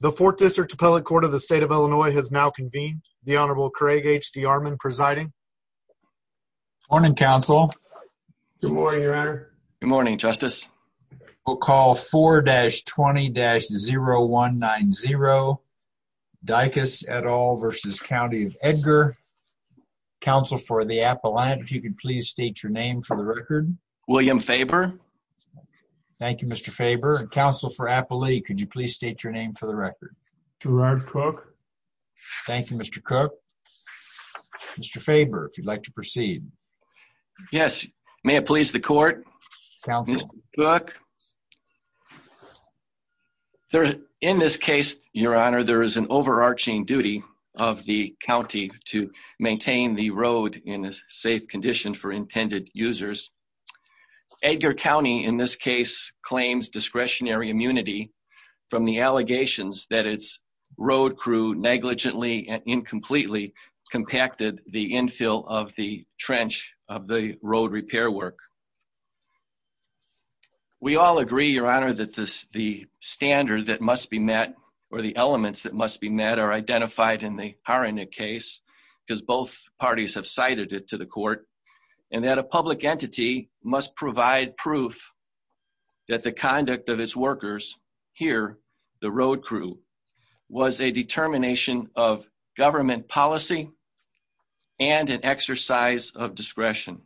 The 4th District Appellate Court of the State of Illinois has now convened. The Honorable Craig H. D. Armon presiding. Morning, Counsel. Good morning, Your Honor. Good morning, Justice. We'll call 4-20-0190 Dicus et al. v. County of Edgar. Counsel for the Appellant, if you could please state your name for the record. William Faber. Thank you, Mr. Faber. Counsel for Appellee, could you please state your name for the record. Gerard Cook. Thank you, Mr. Cook. Mr. Faber, if you'd like to proceed. Yes, may it please the Court. Counsel. Mr. Cook, in this case, Your Honor, there is an overarching duty of the county to maintain the road in a safe condition for intended users. Edgar County, in this case, claims discretionary immunity from the allegations that its road crew negligently and incompletely compacted the infill of the trench of the road repair work. We all agree, Your Honor, that the standard that must be met, or the elements that must be met, are identified in the Haranik case, because both parties have cited it to the Court, and that a public entity must provide proof that the conduct of its workers, here the road crew, was a determination of government policy and an exercise of discretion.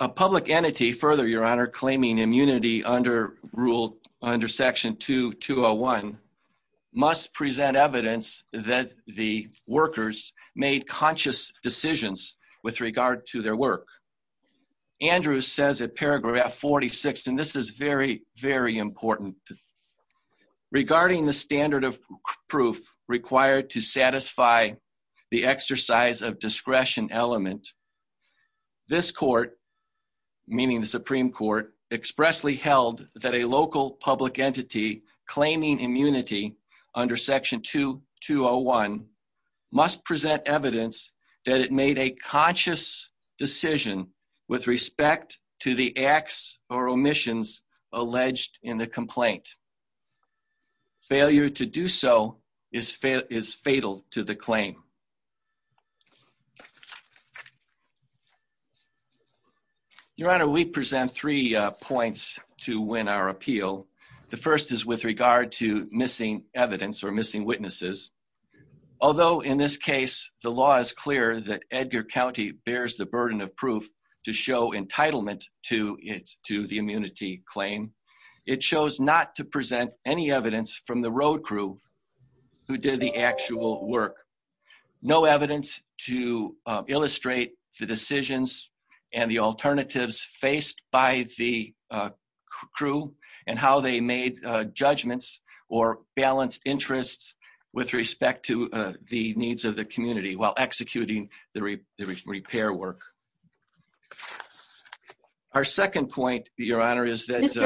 A public entity, further, Your Honor, claiming immunity under Section 2201, must present evidence that the workers made conscious decisions with regard to their work. Andrews says in paragraph 46, and this is very, very important, regarding the standard of proof required to satisfy the exercise of discretion element, This Court, meaning the Supreme Court, expressly held that a local public entity claiming immunity under Section 2201 must present evidence that it made a conscious decision with respect to the acts or omissions alleged in the complaint. Failure to do so is fatal to the claim. Your Honor, we present three points to win our appeal. The first is with regard to missing evidence or missing witnesses. Although, in this case, the law is clear that Edgar County bears the burden of proof to show entitlement to the immunity claim, it chose not to present any evidence from the road crew who did the actual work. No evidence to illustrate the decisions and the alternatives faced by the crew and how they made judgments or balanced interests with respect to the needs of the community while executing the repair work. Our second point, Your Honor, is that- I don't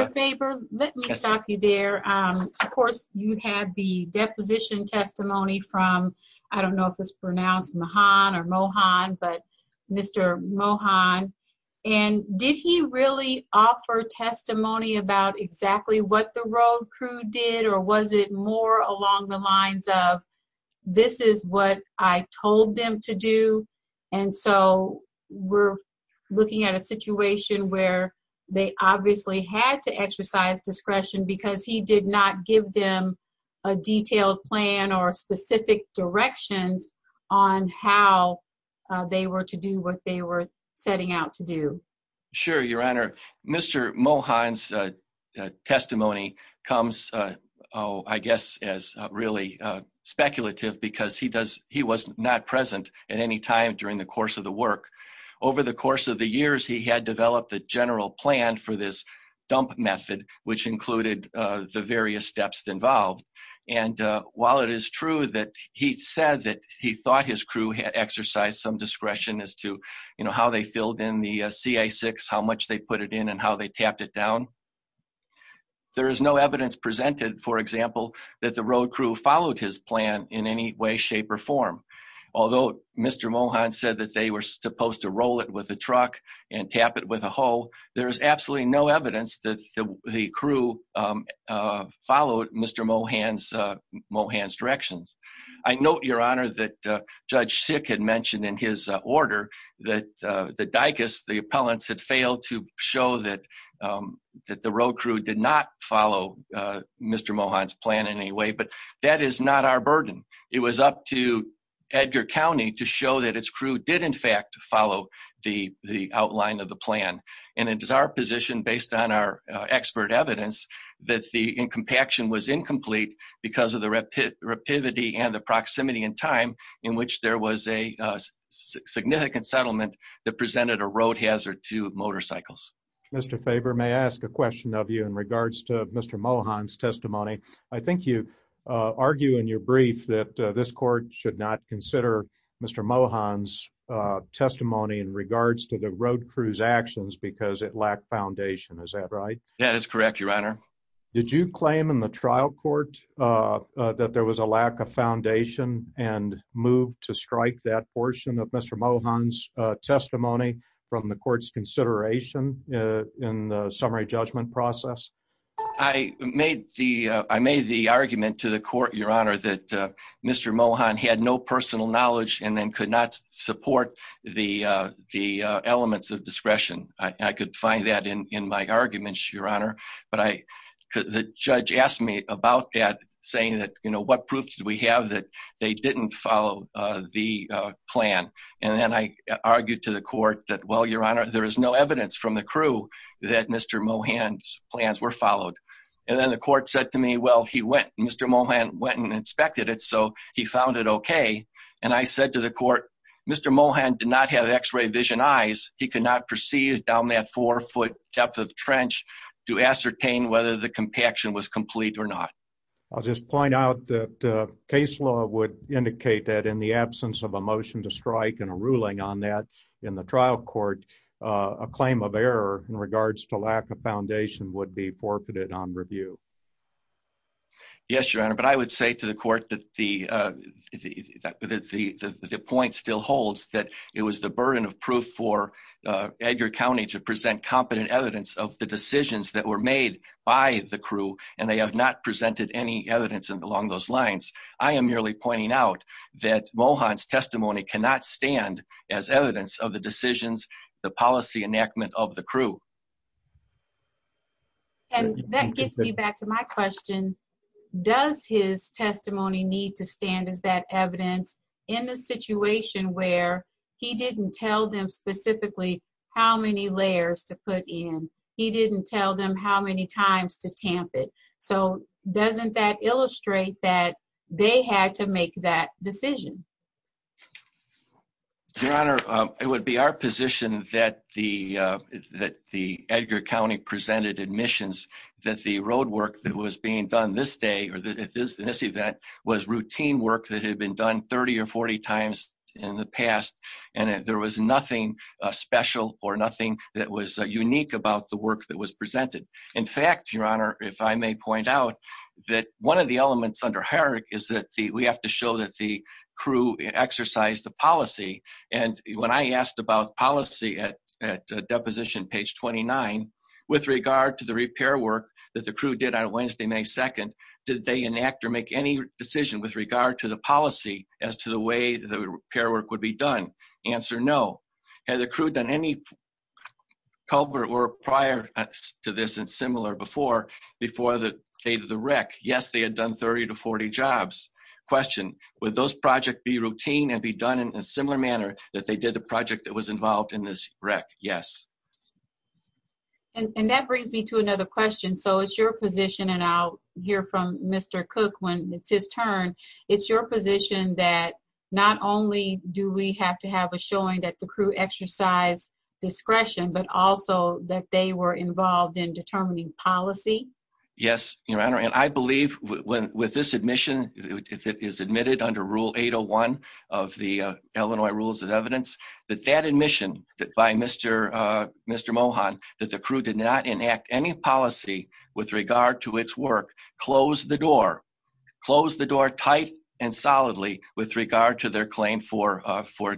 know if it's pronounced Mahan or Mohan, but Mr. Mohan. And did he really offer testimony about exactly what the road crew did or was it more along the lines of, this is what I told them to do? And so we're looking at a situation where they obviously had to exercise discretion because he did not give them a detailed plan or specific directions on how they were to do what they were setting out to do. Sure, Your Honor. Mr. Mohan's testimony comes, I guess, as really speculative because he was not present at any time during the course of the work. Over the course of the years, he had developed a general plan for this dump method, which included the various steps involved. And while it is true that he said that he thought his crew had exercised some discretion as to how they filled in the CI6, how much they put it in and how they tapped it down, there is no evidence presented, for example, that the road crew followed his plan in any way, shape or form. Although Mr. Mohan said that they were supposed to roll it with a truck and tap it with a hoe, there is absolutely no evidence that the crew followed Mr. Mohan's directions. I note, Your Honor, that Judge Sick had mentioned in his order that the DAICAS, the appellants, had failed to show that the road crew did not follow Mr. Mohan's plan in any way, but that is not our burden. It was up to Edgar County to show that its crew did in fact follow the outline of the plan. And it is our position, based on our expert evidence, that the compaction was incomplete because of the rapidity and the proximity in time in which there was a significant settlement that presented a road hazard to motorcycles. Mr. Faber, may I ask a question of you in regards to Mr. Mohan's testimony? I think you argue in your brief that this court should not consider Mr. Mohan's testimony in regards to the road crew's actions because it lacked foundation. Is that right? That is correct, Your Honor. Did you claim in the trial court that there was a lack of foundation and moved to strike that portion of Mr. Mohan's testimony from the court's consideration in the summary judgment process? I made the argument to the court, Your Honor, that Mr. Mohan had no personal knowledge and then could not support the elements of discretion. I could find that in my arguments, Your Honor. But the judge asked me about that, saying that, you know, what proof do we have that they didn't follow the plan? And then I argued to the court that, well, Your Honor, there is no evidence from the crew that Mr. Mohan's plans were followed. And then the court said to me, well, he went, Mr. Mohan went and inspected it, so he found it okay. And I said to the court, Mr. Mohan did not have x-ray vision eyes. He could not perceive down that four-foot depth of trench to ascertain whether the compaction was complete or not. I'll just point out that case law would indicate that in the absence of a motion to strike and a ruling on that in the trial court, a claim of error in regards to lack of foundation would be forfeited on review. Yes, Your Honor, but I would say to the court that the point still holds that it was the burden of proof for Edgar County to present competent evidence of the decisions that were made by the crew, and they have not presented any evidence along those lines. I am merely pointing out that Mohan's testimony cannot stand as evidence of the decisions, the policy enactment of the crew. And that gets me back to my question. Does his testimony need to stand as that evidence in the situation where he didn't tell them specifically how many layers to put in? He didn't tell them how many times to tamp it. So doesn't that illustrate that they had to make that decision? Your Honor, it would be our position that the that the Edgar County presented admissions that the road work that was being done this day or that it is in this event was routine work that had been done 30 or 40 times in the past. And there was nothing special or nothing that was unique about the work that was presented. In fact, Your Honor, if I may point out that one of the elements under Herrick is that we have to show that the crew exercise the policy. And when I asked about policy at deposition page 29, with regard to the repair work that the crew did on Wednesday, May 2nd, did they enact or make any decision with regard to the policy as to the way the repair work would be done? Answer no. Had the crew done any culvert work prior to this and similar before the state of the wreck? Yes, they had done 30 to 40 jobs. Question, would those project be routine and be done in a similar manner that they did the project that was involved in this wreck? Yes. And that brings me to another question. So it's your position and I'll hear from Mr. Cook when it's his turn. It's your position that not only do we have to have a showing that the crew exercise discretion, but also that they were involved in determining policy. Yes, Your Honor. And I believe with this admission, if it is admitted under Rule 801 of the Illinois Rules of Evidence, that that admission by Mr. Mohan that the crew did not enact any policy with regard to its work closed the door, closed the door tight and solidly with regard to their claim for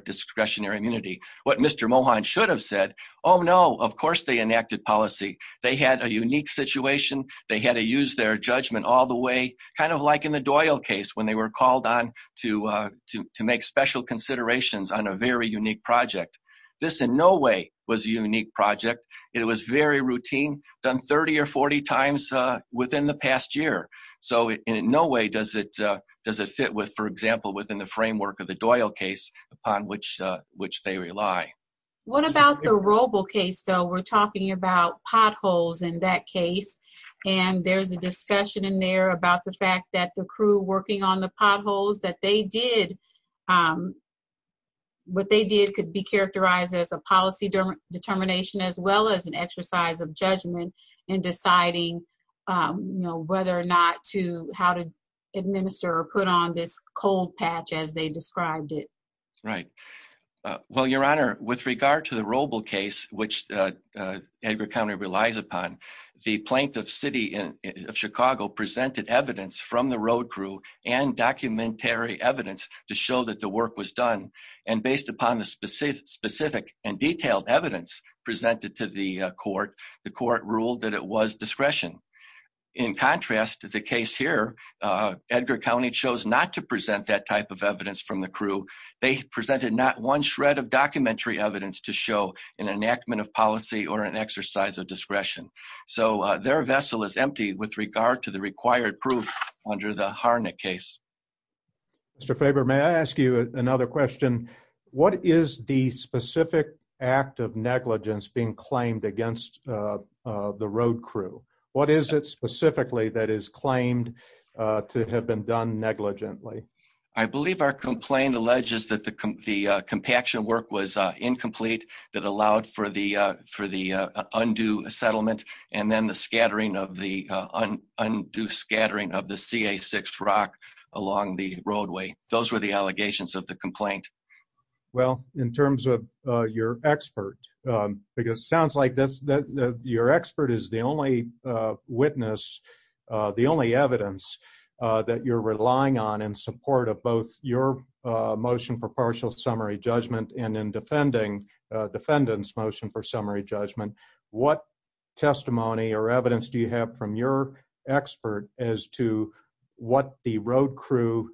discretionary immunity. What Mr. Mohan should have said, oh no, of course they enacted policy. They had a unique situation. They had to use their judgment all the way, kind of like in the Doyle case when they were called on to make special considerations on a very unique project. This in no way was a unique project. It was very routine, done 30 or 40 times within the past year. So in no way does it fit with, for example, within the framework of the Doyle case upon which they rely. What about the Roble case, though? We're talking about potholes in that case. And there's a discussion in there about the fact that the crew working on the potholes that they did, what they did could be characterized as a policy determination, as well as an exercise of judgment in deciding whether or not to, how to administer or put on this cold patch as they described it. Right. Well, Your Honor, with regard to the Roble case, which Edgar County relies upon, the plaintiff city of Chicago presented evidence from the road crew and documentary evidence to show that the work was done. And based upon the specific and detailed evidence presented to the court, the court ruled that it was discretion. In contrast to the case here, Edgar County chose not to present that type of evidence from the crew. They presented not one shred of documentary evidence to show an enactment of policy or an exercise of discretion. So their vessel is empty with regard to the required proof under the Harnik case. Mr. Faber, may I ask you another question? What is the specific act of negligence being claimed against the road crew? What is it specifically that is claimed to have been done negligently? I believe our complaint alleges that the compaction work was incomplete that allowed for the undue settlement and then the scattering of the undue scattering of the CA6 rock along the roadway. Those were the allegations of the complaint. Well, in terms of your expert, because it sounds like your expert is the only witness, the only evidence that you're relying on in support of both your motion for partial summary judgment and in defending defendant's motion for summary judgment. What testimony or evidence do you have from your expert as to what the road crew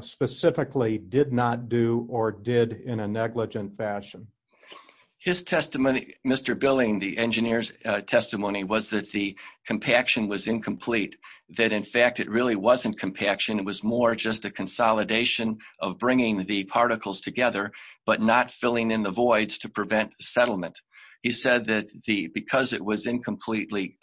specifically did not do or did in a negligent fashion? His testimony, Mr. Billing, the engineer's testimony was that the compaction was incomplete. That in fact, it really wasn't compaction. It was more just a consolidation of bringing the particles together, but not filling in the voids to prevent settlement. He said that because it was incompletely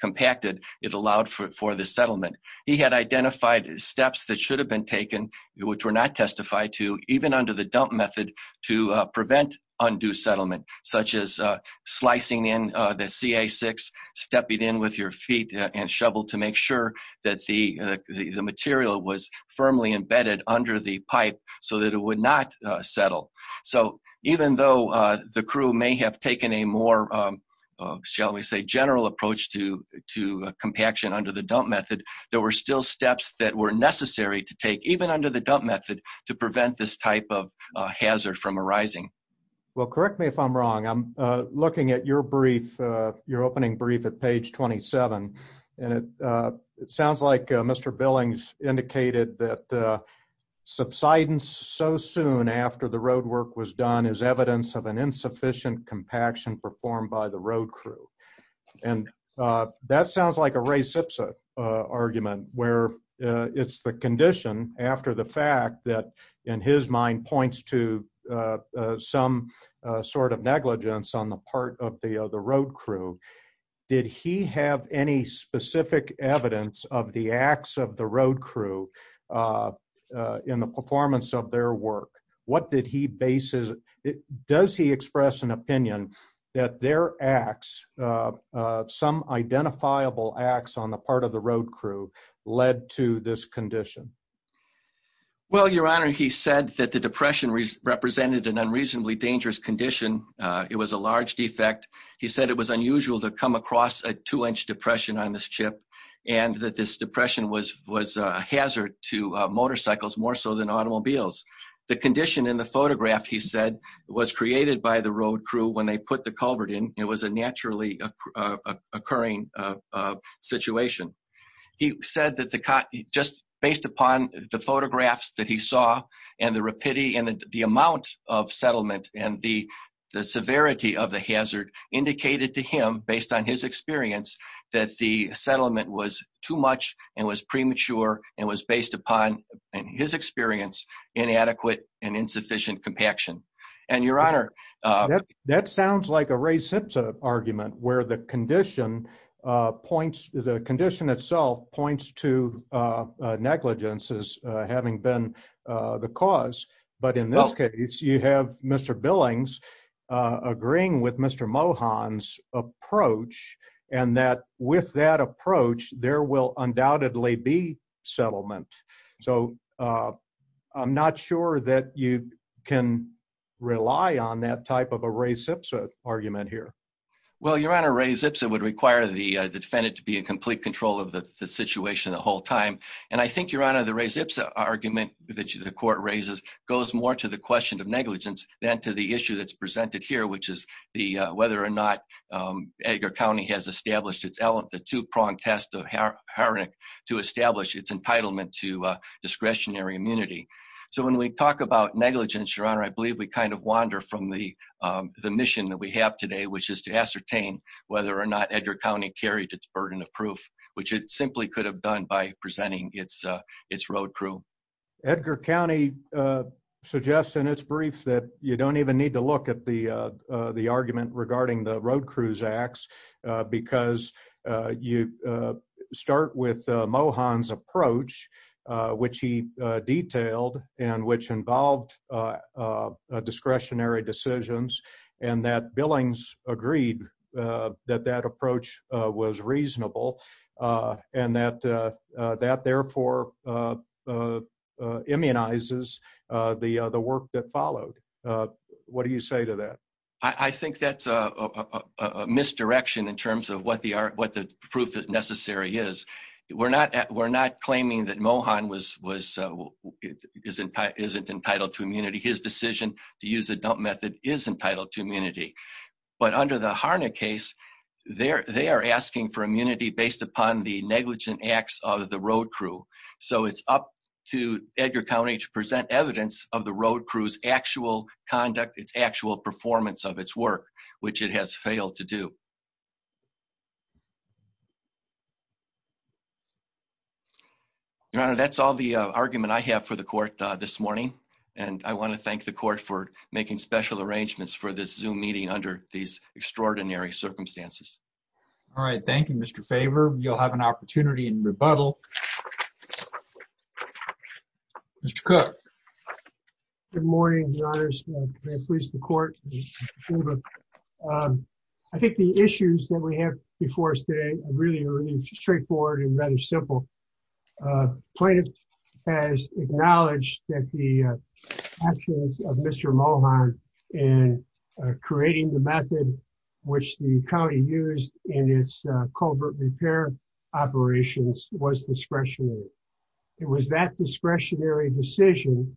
compacted, it allowed for the settlement. He had identified steps that should have been taken, which were not testified to even under the dump method to prevent undue settlement, such as slicing in the CA6, stepping in with your feet and shovel to make sure that the material was firmly embedded under the pipe so that it would not settle. So even though the crew may have taken a more, shall we say, general approach to compaction under the dump method, there were still steps that were necessary to take, even under the dump method, to prevent this type of hazard from arising. Well, correct me if I'm wrong. I'm looking at your brief, your opening brief at page 27, and it sounds like Mr. Billing's indicated that subsidence so soon after the road work was done is evidence of an insufficient compaction performed by the road crew. And that sounds like a Ray Sipsa argument, where it's the condition after the fact that, in his mind, points to some sort of negligence on the part of the road crew. Did he have any specific evidence of the acts of the road crew in the performance of their work? Does he express an opinion that their acts, some identifiable acts on the part of the road crew, led to this condition? Well, Your Honor, he said that the depression represented an unreasonably dangerous condition. It was a large defect. He said it was unusual to come across a two-inch depression on this chip, and that this depression was a hazard to motorcycles more so than automobiles. The condition in the photograph, he said, was created by the road crew when they put the culvert in. It was a naturally occurring situation. He said that just based upon the photographs that he saw, and the rapidity and the amount of settlement, and the severity of the hazard, indicated to him, based on his experience, that the settlement was too much and was premature and was based upon, in his experience, inadequate and insufficient compaction. That sounds like a Ray Sipsa argument, where the condition itself points to negligence as having been the cause. But in this case, you have Mr. Billings agreeing with Mr. Mohan's approach, and that with that approach, there will undoubtedly be settlement. So, I'm not sure that you can rely on that type of a Ray Sipsa argument here. Well, Your Honor, Ray Sipsa would require the defendant to be in complete control of the situation the whole time. And I think, Your Honor, the Ray Sipsa argument that the court raises goes more to the question of negligence than to the issue that's presented here, which is whether or not Edgar County has established the two-pronged test to establish its entitlement to discretionary immunity. So, when we talk about negligence, Your Honor, I believe we kind of wander from the mission that we have today, which is to ascertain whether or not Edgar County carried its burden of proof, which it simply could have done by presenting its road crew. Edgar County suggests in its brief that you don't even need to look at the argument regarding the road crews acts, because you start with Mohan's approach, which he detailed, and which involved discretionary decisions, and that Billings agreed that that approach was reasonable, and that that therefore immunizes the work that followed. What do you say to that? Your Honor, that's all the argument I have for the court this morning, and I want to thank the court for making special arrangements for this Zoom meeting under these extraordinary circumstances. All right. Thank you, Mr. Faber. You'll have an opportunity in rebuttal. Good morning, Your Honor. I think the issues that we have before us today are really straightforward and rather simple. Plaintiff has acknowledged that the actions of Mr. Mohan in creating the method which the county used in its culvert repair operations was discretionary. It was that discretionary decision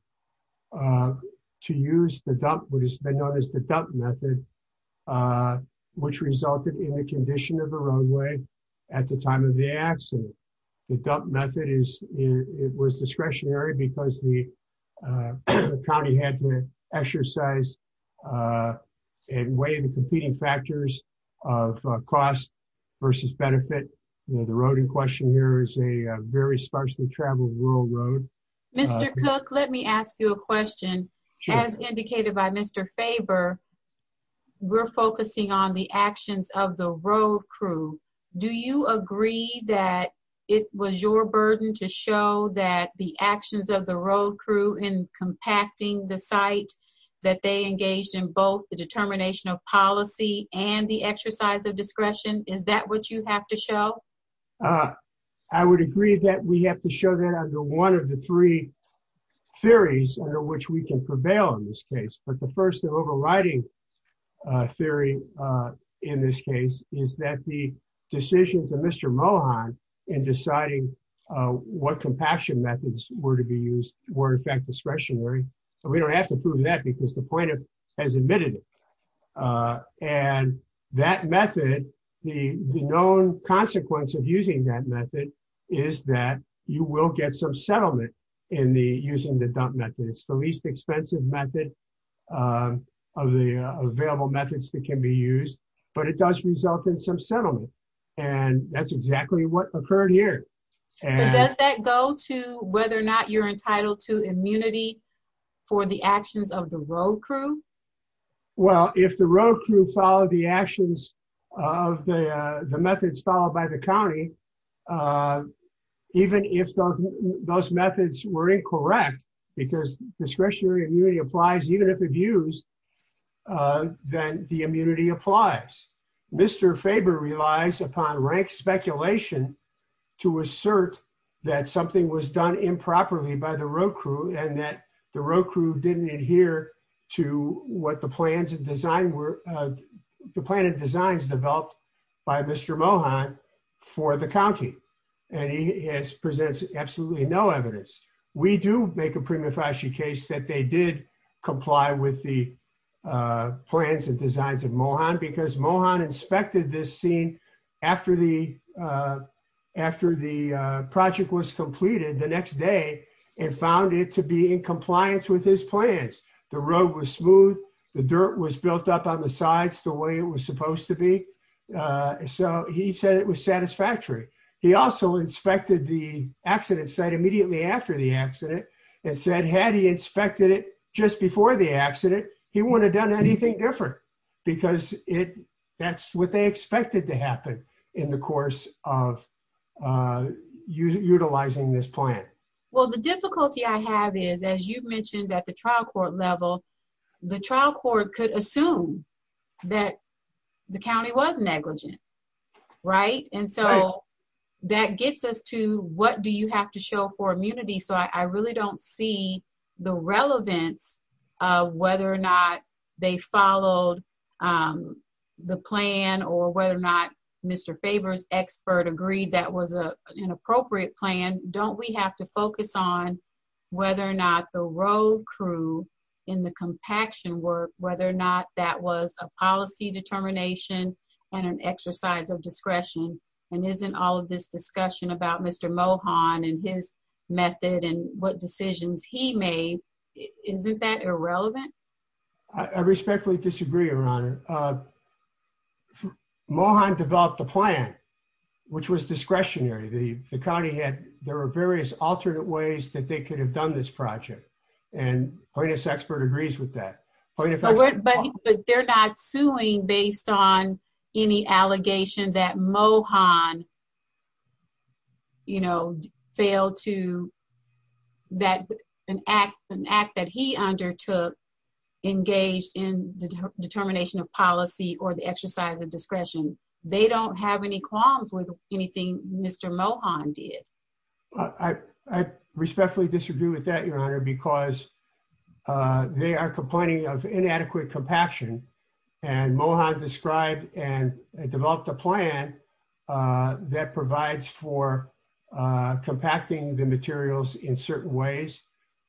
to use the dump, what has been known as the dump method, which resulted in the condition of the roadway at the time of the accident. The dump method was discretionary because the county had to exercise and weigh the competing factors of cost versus benefit. The road in question here is a very sparsely traveled rural road. Mr. Cook, let me ask you a question. As indicated by Mr. Faber, we're focusing on the actions of the road crew. Do you agree that it was your burden to show that the actions of the road crew in compacting the site, that they engaged in both the determination of policy and the exercise of discretion? Is that what you have to show? I would agree that we have to show that under one of the three theories under which we can prevail in this case. But the first overriding theory in this case is that the decision to Mr. Mohan in deciding what compaction methods were to be used were in fact discretionary. We don't have to prove that because the plaintiff has admitted it. And that method, the known consequence of using that method is that you will get some settlement in the using the dump method. It's the least expensive method of the available methods that can be used, but it does result in some settlement. And that's exactly what occurred here. Does that go to whether or not you're entitled to immunity for the actions of the road crew? Well, if the road crew followed the actions of the methods followed by the county, even if those methods were incorrect, because discretionary immunity applies, even if abused, then the immunity applies. Mr. Faber relies upon rank speculation to assert that something was done improperly by the road crew and that the road crew didn't adhere to what the plans and design were, the plan and designs developed by Mr. Mohan for the county. And he presents absolutely no evidence. We do make a prima facie case that they did comply with the plans and designs of Mohan because Mohan inspected this scene after the project was completed the next day and found it to be in compliance with his plans. The road was smooth. The dirt was built up on the sides the way it was supposed to be. So he said it was satisfactory. He also inspected the accident site immediately after the accident and said had he inspected it just before the accident, he wouldn't have done anything different because that's what they expected to happen in the course of utilizing this plan. Well, the difficulty I have is, as you mentioned, at the trial court level, the trial court could assume that the county was negligent. Right. And so that gets us to what do you have to show for immunity. So I really don't see the relevance of whether or not they followed the plan or whether or not Mr. Faber's expert agreed that was an appropriate plan. Don't we have to focus on whether or not the road crew in the compaction work, whether or not that was a policy determination and an exercise of discretion. And isn't all of this discussion about Mr. Mohan and his method and what decisions he made, isn't that irrelevant? I respectfully disagree, Your Honor. Mohan developed the plan, which was discretionary. The county had, there were various alternate ways that they could have done this project. And Hoyna's expert agrees with that. But they're not suing based on any allegation that Mohan, you know, failed to, that an act that he undertook engaged in determination of policy or the exercise of discretion. They don't have any qualms with anything Mr. Mohan did. I respectfully disagree with that, Your Honor, because they are complaining of inadequate compaction and Mohan described and developed a plan that provides for compacting the materials in certain ways.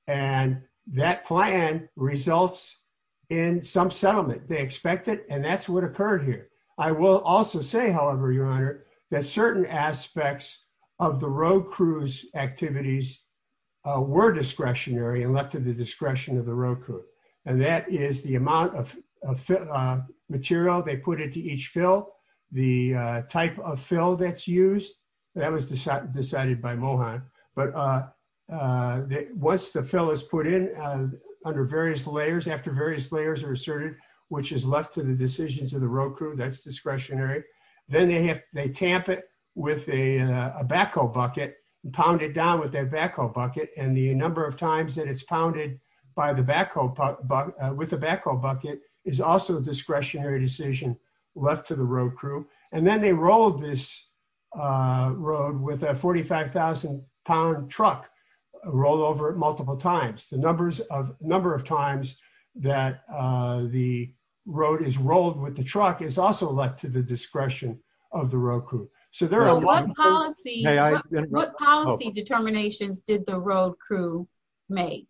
And that plan results in some settlement. They expect it. And that's what occurred here. I will also say, however, Your Honor, that certain aspects of the road crews activities were discretionary and left to the discretion of the road crew. And that is the amount of material they put into each fill, the type of fill that's used, that was decided by Mohan. But once the fill is put in under various layers, after various layers are asserted, which is left to the decisions of the road crew, that's discretionary. Then they tamp it with a backhoe bucket and pound it down with their backhoe bucket. And the number of times that it's pounded with a backhoe bucket is also a discretionary decision left to the road crew. And then they rolled this road with a 45,000 pound truck rollover multiple times. The number of times that the road is rolled with the truck is also left to the discretion of the road crew. So what policy determinations did the road crew make?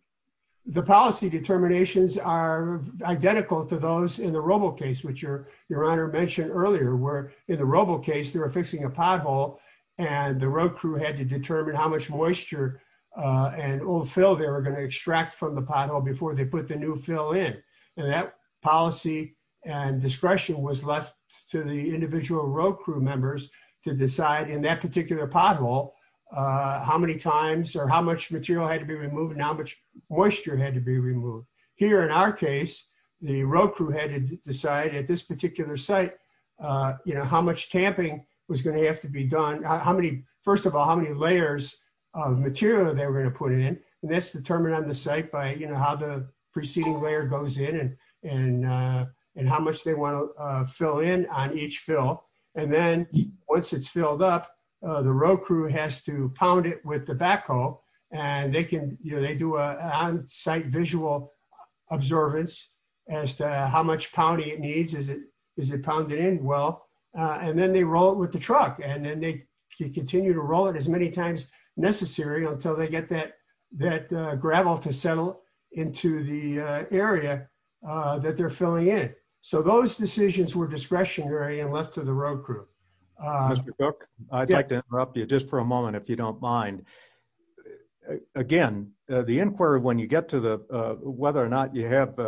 The policy determinations are identical to those in the Robo case, which Your Honor mentioned earlier, where in the Robo case, they were fixing a pothole and the road crew had to determine how much moisture and old fill they were going to extract from the pothole before they put the new fill in. And that policy and discretion was left to the individual road crew members to decide in that particular pothole, how many times or how much material had to be removed and how much moisture had to be removed. Here in our case, the road crew had to decide at this particular site, you know, how much tamping was going to have to be done. How many, first of all, how many layers of material they were going to put in. And that's determined on the site by, you know, how the preceding layer goes in and how much they want to fill in on each fill. And then once it's filled up, the road crew has to pound it with the backhoe and they can, you know, they do a site visual observance as to how much pounding it needs. Is it pounded in well? And then they roll it with the truck and then they continue to roll it as many times necessary until they get that gravel to settle into the area that they're filling in. So those decisions were discretionary and left to the road crew. I'd like to interrupt you just for a moment, if you don't mind. Again, the inquiry when you get to the whether or not you have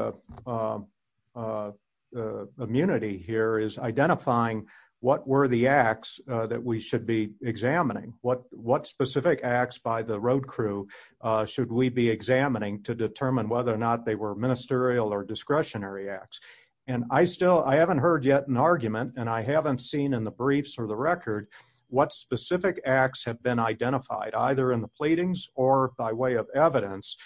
Immunity here is identifying what were the acts that we should be examining what what specific acts by the road crew should we be examining to determine whether or not they were ministerial or discretionary acts. And I still I haven't heard yet an argument and I haven't seen in the briefs or the record what specific acts have been identified, either in the pleadings or by way of evidence.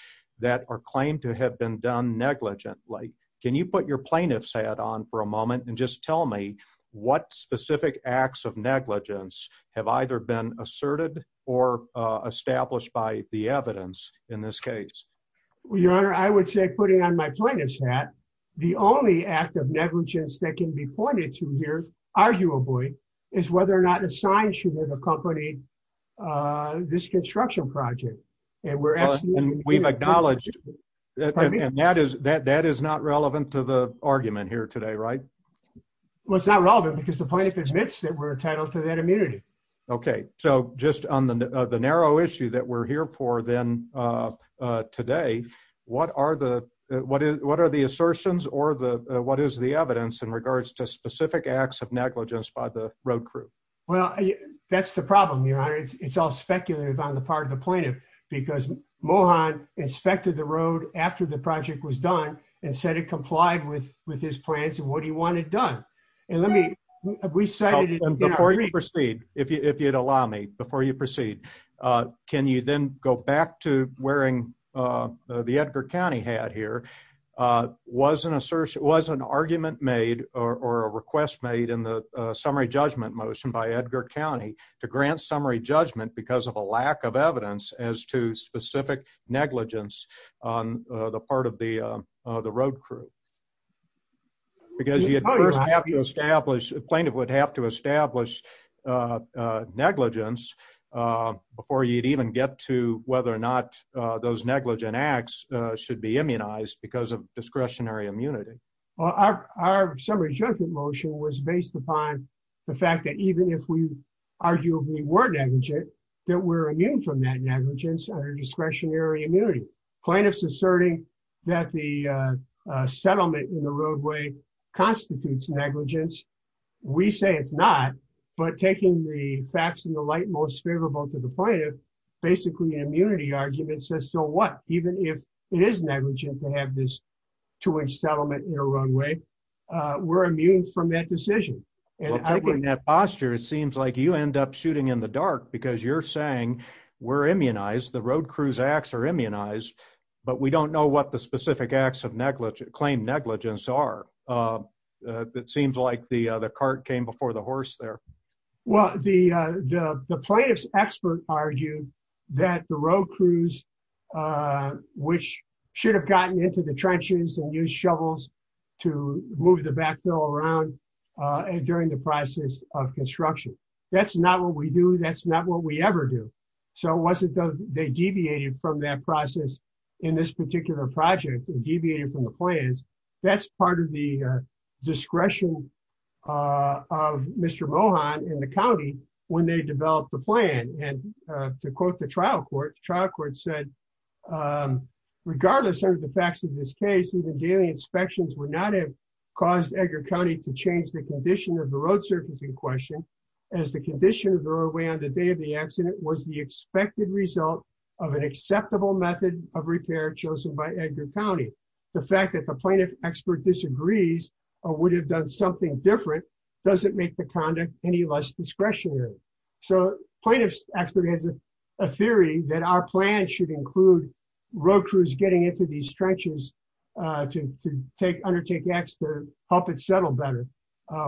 That are claimed to have been done negligently. Can you put your plaintiff's hat on for a moment and just tell me what specific acts of negligence have either been asserted or established by the evidence in this case. Your Honor, I would say, putting on my plaintiff's hat. The only act of negligence that can be pointed to here, arguably, is whether or not a sign should have accompanied This construction project and we're asking We've acknowledged That is that that is not relevant to the argument here today. Right. Well, it's not relevant because the plaintiff admits that we're entitled to that immunity. Okay, so just on the narrow issue that we're here for then Today, what are the what is what are the assertions or the what is the evidence in regards to specific acts of negligence by the road crew. Well, that's the problem. Your Honor, it's all speculative on the part of the plaintiff because Mohan inspected the road after the project was done and said it complied with with his plans and what do you want it done. And let me We say Before you proceed, if you if you'd allow me before you proceed. Can you then go back to wearing the Edgar County had here. Was an assertion was an argument made or a request made in the summary judgment motion by Edgar County to grant summary judgment because of a lack of evidence as to specific negligence on the part of the, the road crew. Because you have to establish plaintiff would have to establish Negligence before you'd even get to whether or not those negligent acts should be immunized because of discretionary immunity. Our summary judgment motion was based upon the fact that even if we arguably were negligent that we're immune from that negligence or discretionary immunity plaintiffs asserting that the It is negligent to have this to which settlement in a runway. We're immune from that decision. And that posture. It seems like you end up shooting in the dark because you're saying we're immunized the road crews acts are immunized, but we don't know what the specific acts of negligent claim negligence are It seems like the the cart came before the horse there. Well, the, the, the plaintiffs expert argued that the road crews. Which should have gotten into the trenches and use shovels to move the backfill around During the process of construction. That's not what we do. That's not what we ever do. So wasn't they deviated from that process in this particular project deviated from the plans. That's part of the discretion. Of Mr. Mohan in the county when they develop the plan and to quote the trial court trial court said Regardless of the facts of this case, even daily inspections would not have caused Edgar County to change the condition of the road surface in question. As the condition of the roadway on the day of the accident was the expected result of an acceptable method of repair chosen by Edgar County. The fact that the plaintiff expert disagrees or would have done something different doesn't make the conduct any less discretionary so plaintiffs expert has a Theory that our plan should include road crews getting into these trenches to take undertake X to help it settle better.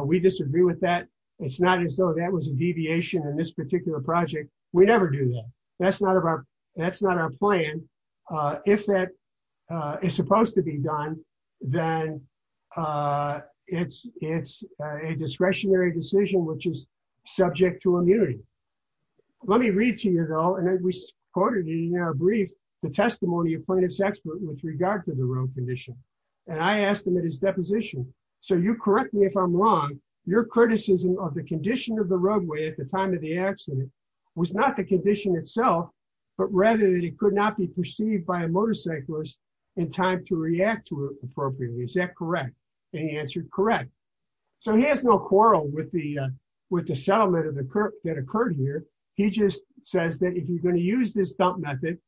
We disagree with that. It's not as though that was a deviation in this particular project. We never do that. That's not about. That's not our plan. If that is supposed to be done, then It's, it's a discretionary decision which is subject to immunity. Let me read to you at all. And we quoted in our brief the testimony of plaintiffs expert with regard to the road condition. And I asked him at his deposition. So you correct me if I'm wrong, your criticism of the condition of the roadway at the time of the accident. Was not the condition itself, but rather than it could not be perceived by a motorcyclist in time to react to it appropriately. Is that correct. Any answer. Correct. So he has no quarrel with the with the settlement of the current that occurred here. He just says that if you're going to use this dump method.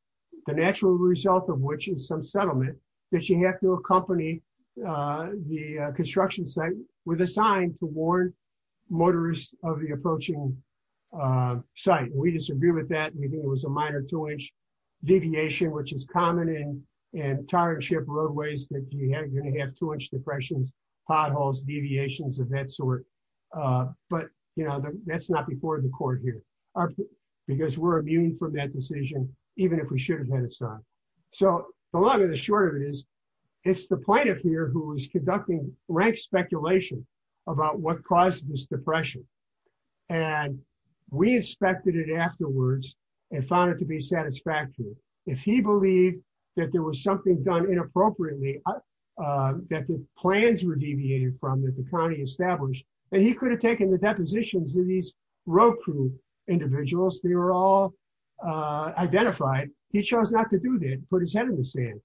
The natural result of which is some settlement that you have to accompany the construction site with a sign to warn motorists of the approaching Site. We disagree with that. We think it was a minor two inch deviation, which is common in entire ship roadways that you have going to have too much depressions potholes deviations of that sort. But, you know, that's not before the court here are because we're immune from that decision, even if we should have had a son. So the long and the short of it is It's the point of fear, who is conducting rank speculation about what caused this depression and we inspected it afterwards and found it to be satisfactory. If he believed that there was something done inappropriately. That the plans were deviated from that the county established and he could have taken the depositions of these road crew individuals, they were all identified. He chose not to do that, put his head in the sand.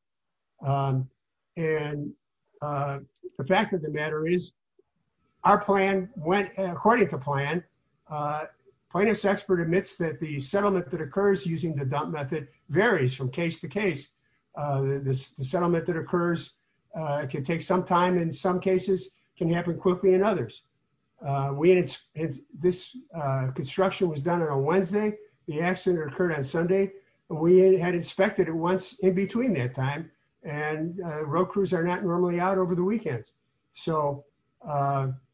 And the fact of the matter is our plan went according to plan. Plaintiff's expert admits that the settlement that occurs using the dump method varies from case to case this settlement that occurs. Can take some time in some cases can happen quickly and others we it's this construction was done on a Wednesday. The accident occurred on Sunday. We had expected it once in between that time and road crews are not normally out over the weekends, so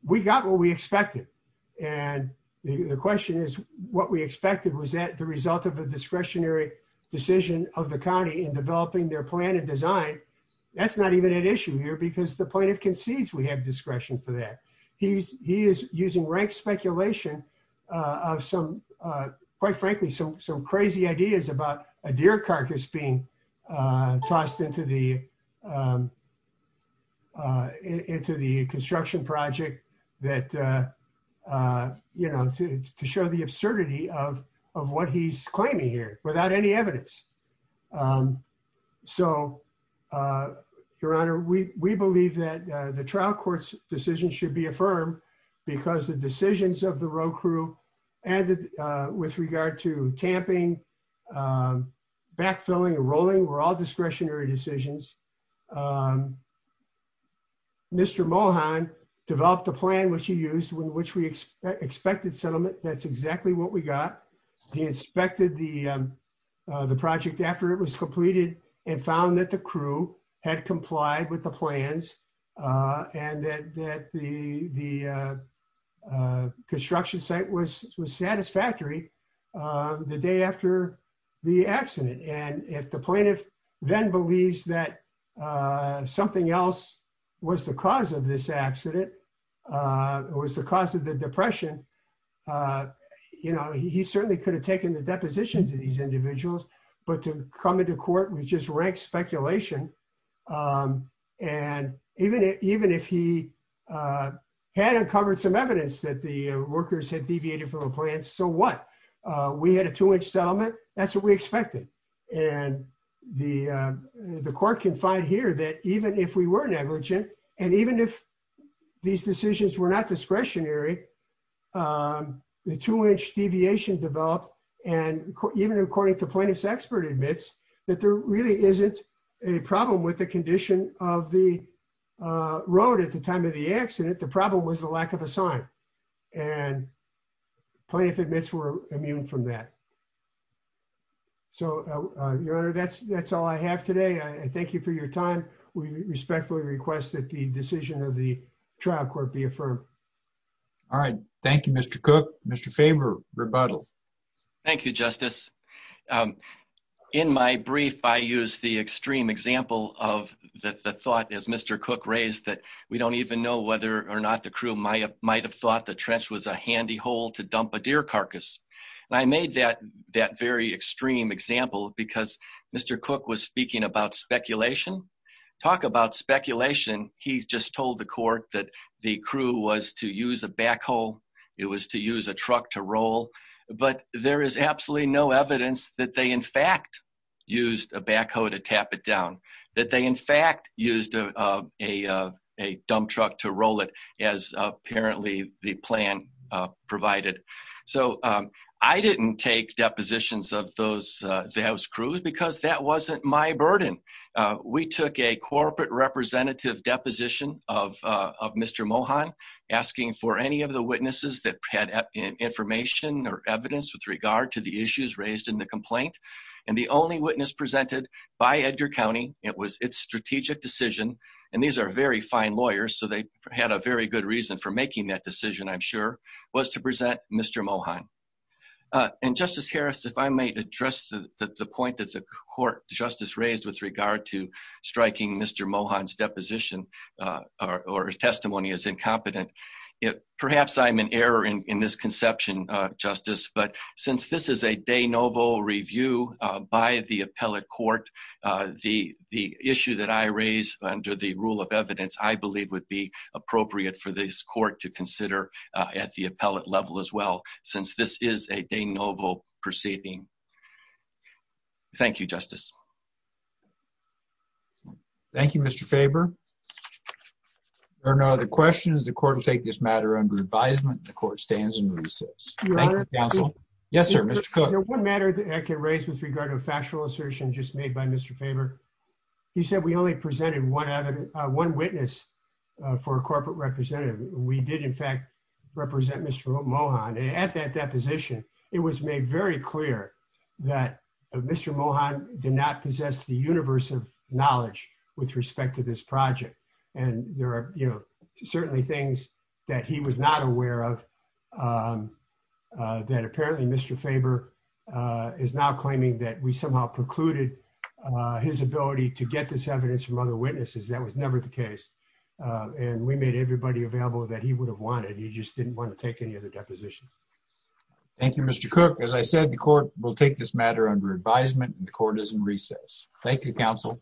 We got what we expected. And the question is what we expected was that the result of a discretionary decision of the county in developing their plan and design. That's not even an issue here because the plaintiff concedes we have discretion for that he's he is using rank speculation of some, quite frankly, some some crazy ideas about a deer carcass being tossed into the Into the construction project that You know, to show the absurdity of of what he's claiming here without any evidence. So, Your Honor, we, we believe that the trial courts decision should be affirmed because the decisions of the road crew and with regard to tamping Backfilling rolling were all discretionary decisions. Mr Mohan developed a plan which he used when which we expected settlement. That's exactly what we got. He inspected the The project after it was completed and found that the crew had complied with the plans and that the the Construction site was was satisfactory. The day after the accident. And if the plaintiff then believes that something else was the cause of this accident. Was the cause of the depression. You know, he certainly could have taken the depositions of these individuals, but to come into court with just rank speculation. And even if even if he Had uncovered some evidence that the workers had deviated from a plan. So what we had a two inch settlement. That's what we expected and the, the court can find here that even if we were negligent. And even if these decisions were not discretionary The two inch deviation developed and even according to plaintiff's expert admits that there really isn't a problem with the condition of the Road at the time of the accident. The problem was the lack of a sign and plaintiff admits were immune from that. So that's, that's all I have today. I thank you for your time. We respectfully request that the decision of the trial court be affirmed. All right. Thank you, Mr. Cook, Mr favor rebuttal. Thank you, Justice. In my brief I use the extreme example of the thought is Mr. Cook raised that we don't even know whether or not the crew might have might have thought the trench was a handy hole to dump a deer carcass. And I made that that very extreme example because Mr. Cook was speaking about speculation. Talk about speculation. He's just told the court that the crew was to use a backhoe. It was to use a truck to roll, but there is absolutely no evidence that they in fact I didn't take depositions of those that was crude because that wasn't my burden. We took a corporate representative deposition of Mr Mohan asking for any of the witnesses that had information or evidence with regard to the issues raised in the complaint. And the only witness presented by Edgar County. It was its strategic decision. And these are very fine lawyers, so they had a very good reason for making that decision. I'm sure was to present Mr Mohan And Justice Harris, if I may address the point that the court justice raised with regard to striking Mr Mohan's deposition. Or testimony is incompetent. It perhaps I'm an error in this conception, Justice, but since this is a day noble review by the appellate court. The, the issue that I raised under the rule of evidence, I believe, would be appropriate for this court to consider at the appellate level as well. Since this is a day noble proceeding. Thank you, Justice. Thank you, Mr favor. Or no other questions. The court will take this matter under advisement, the court stands and Yes, sir. One matter that I can raise with regard to a factual assertion just made by Mr favor. He said we only presented one other one witness. For corporate representative, we did in fact represent Mr Mohan at that that position. It was made very clear that Mr Mohan did not possess the universe of knowledge with respect to this project. And there are, you know, certainly things that he was not aware of. That apparently Mr favor is now claiming that we somehow precluded his ability to get this evidence from other witnesses. That was never the case. And we made everybody available that he would have wanted. He just didn't want to take any of the deposition. Thank you, Mr. Cook, as I said, the court will take this matter under advisement and the court is in recess. Thank you, counsel.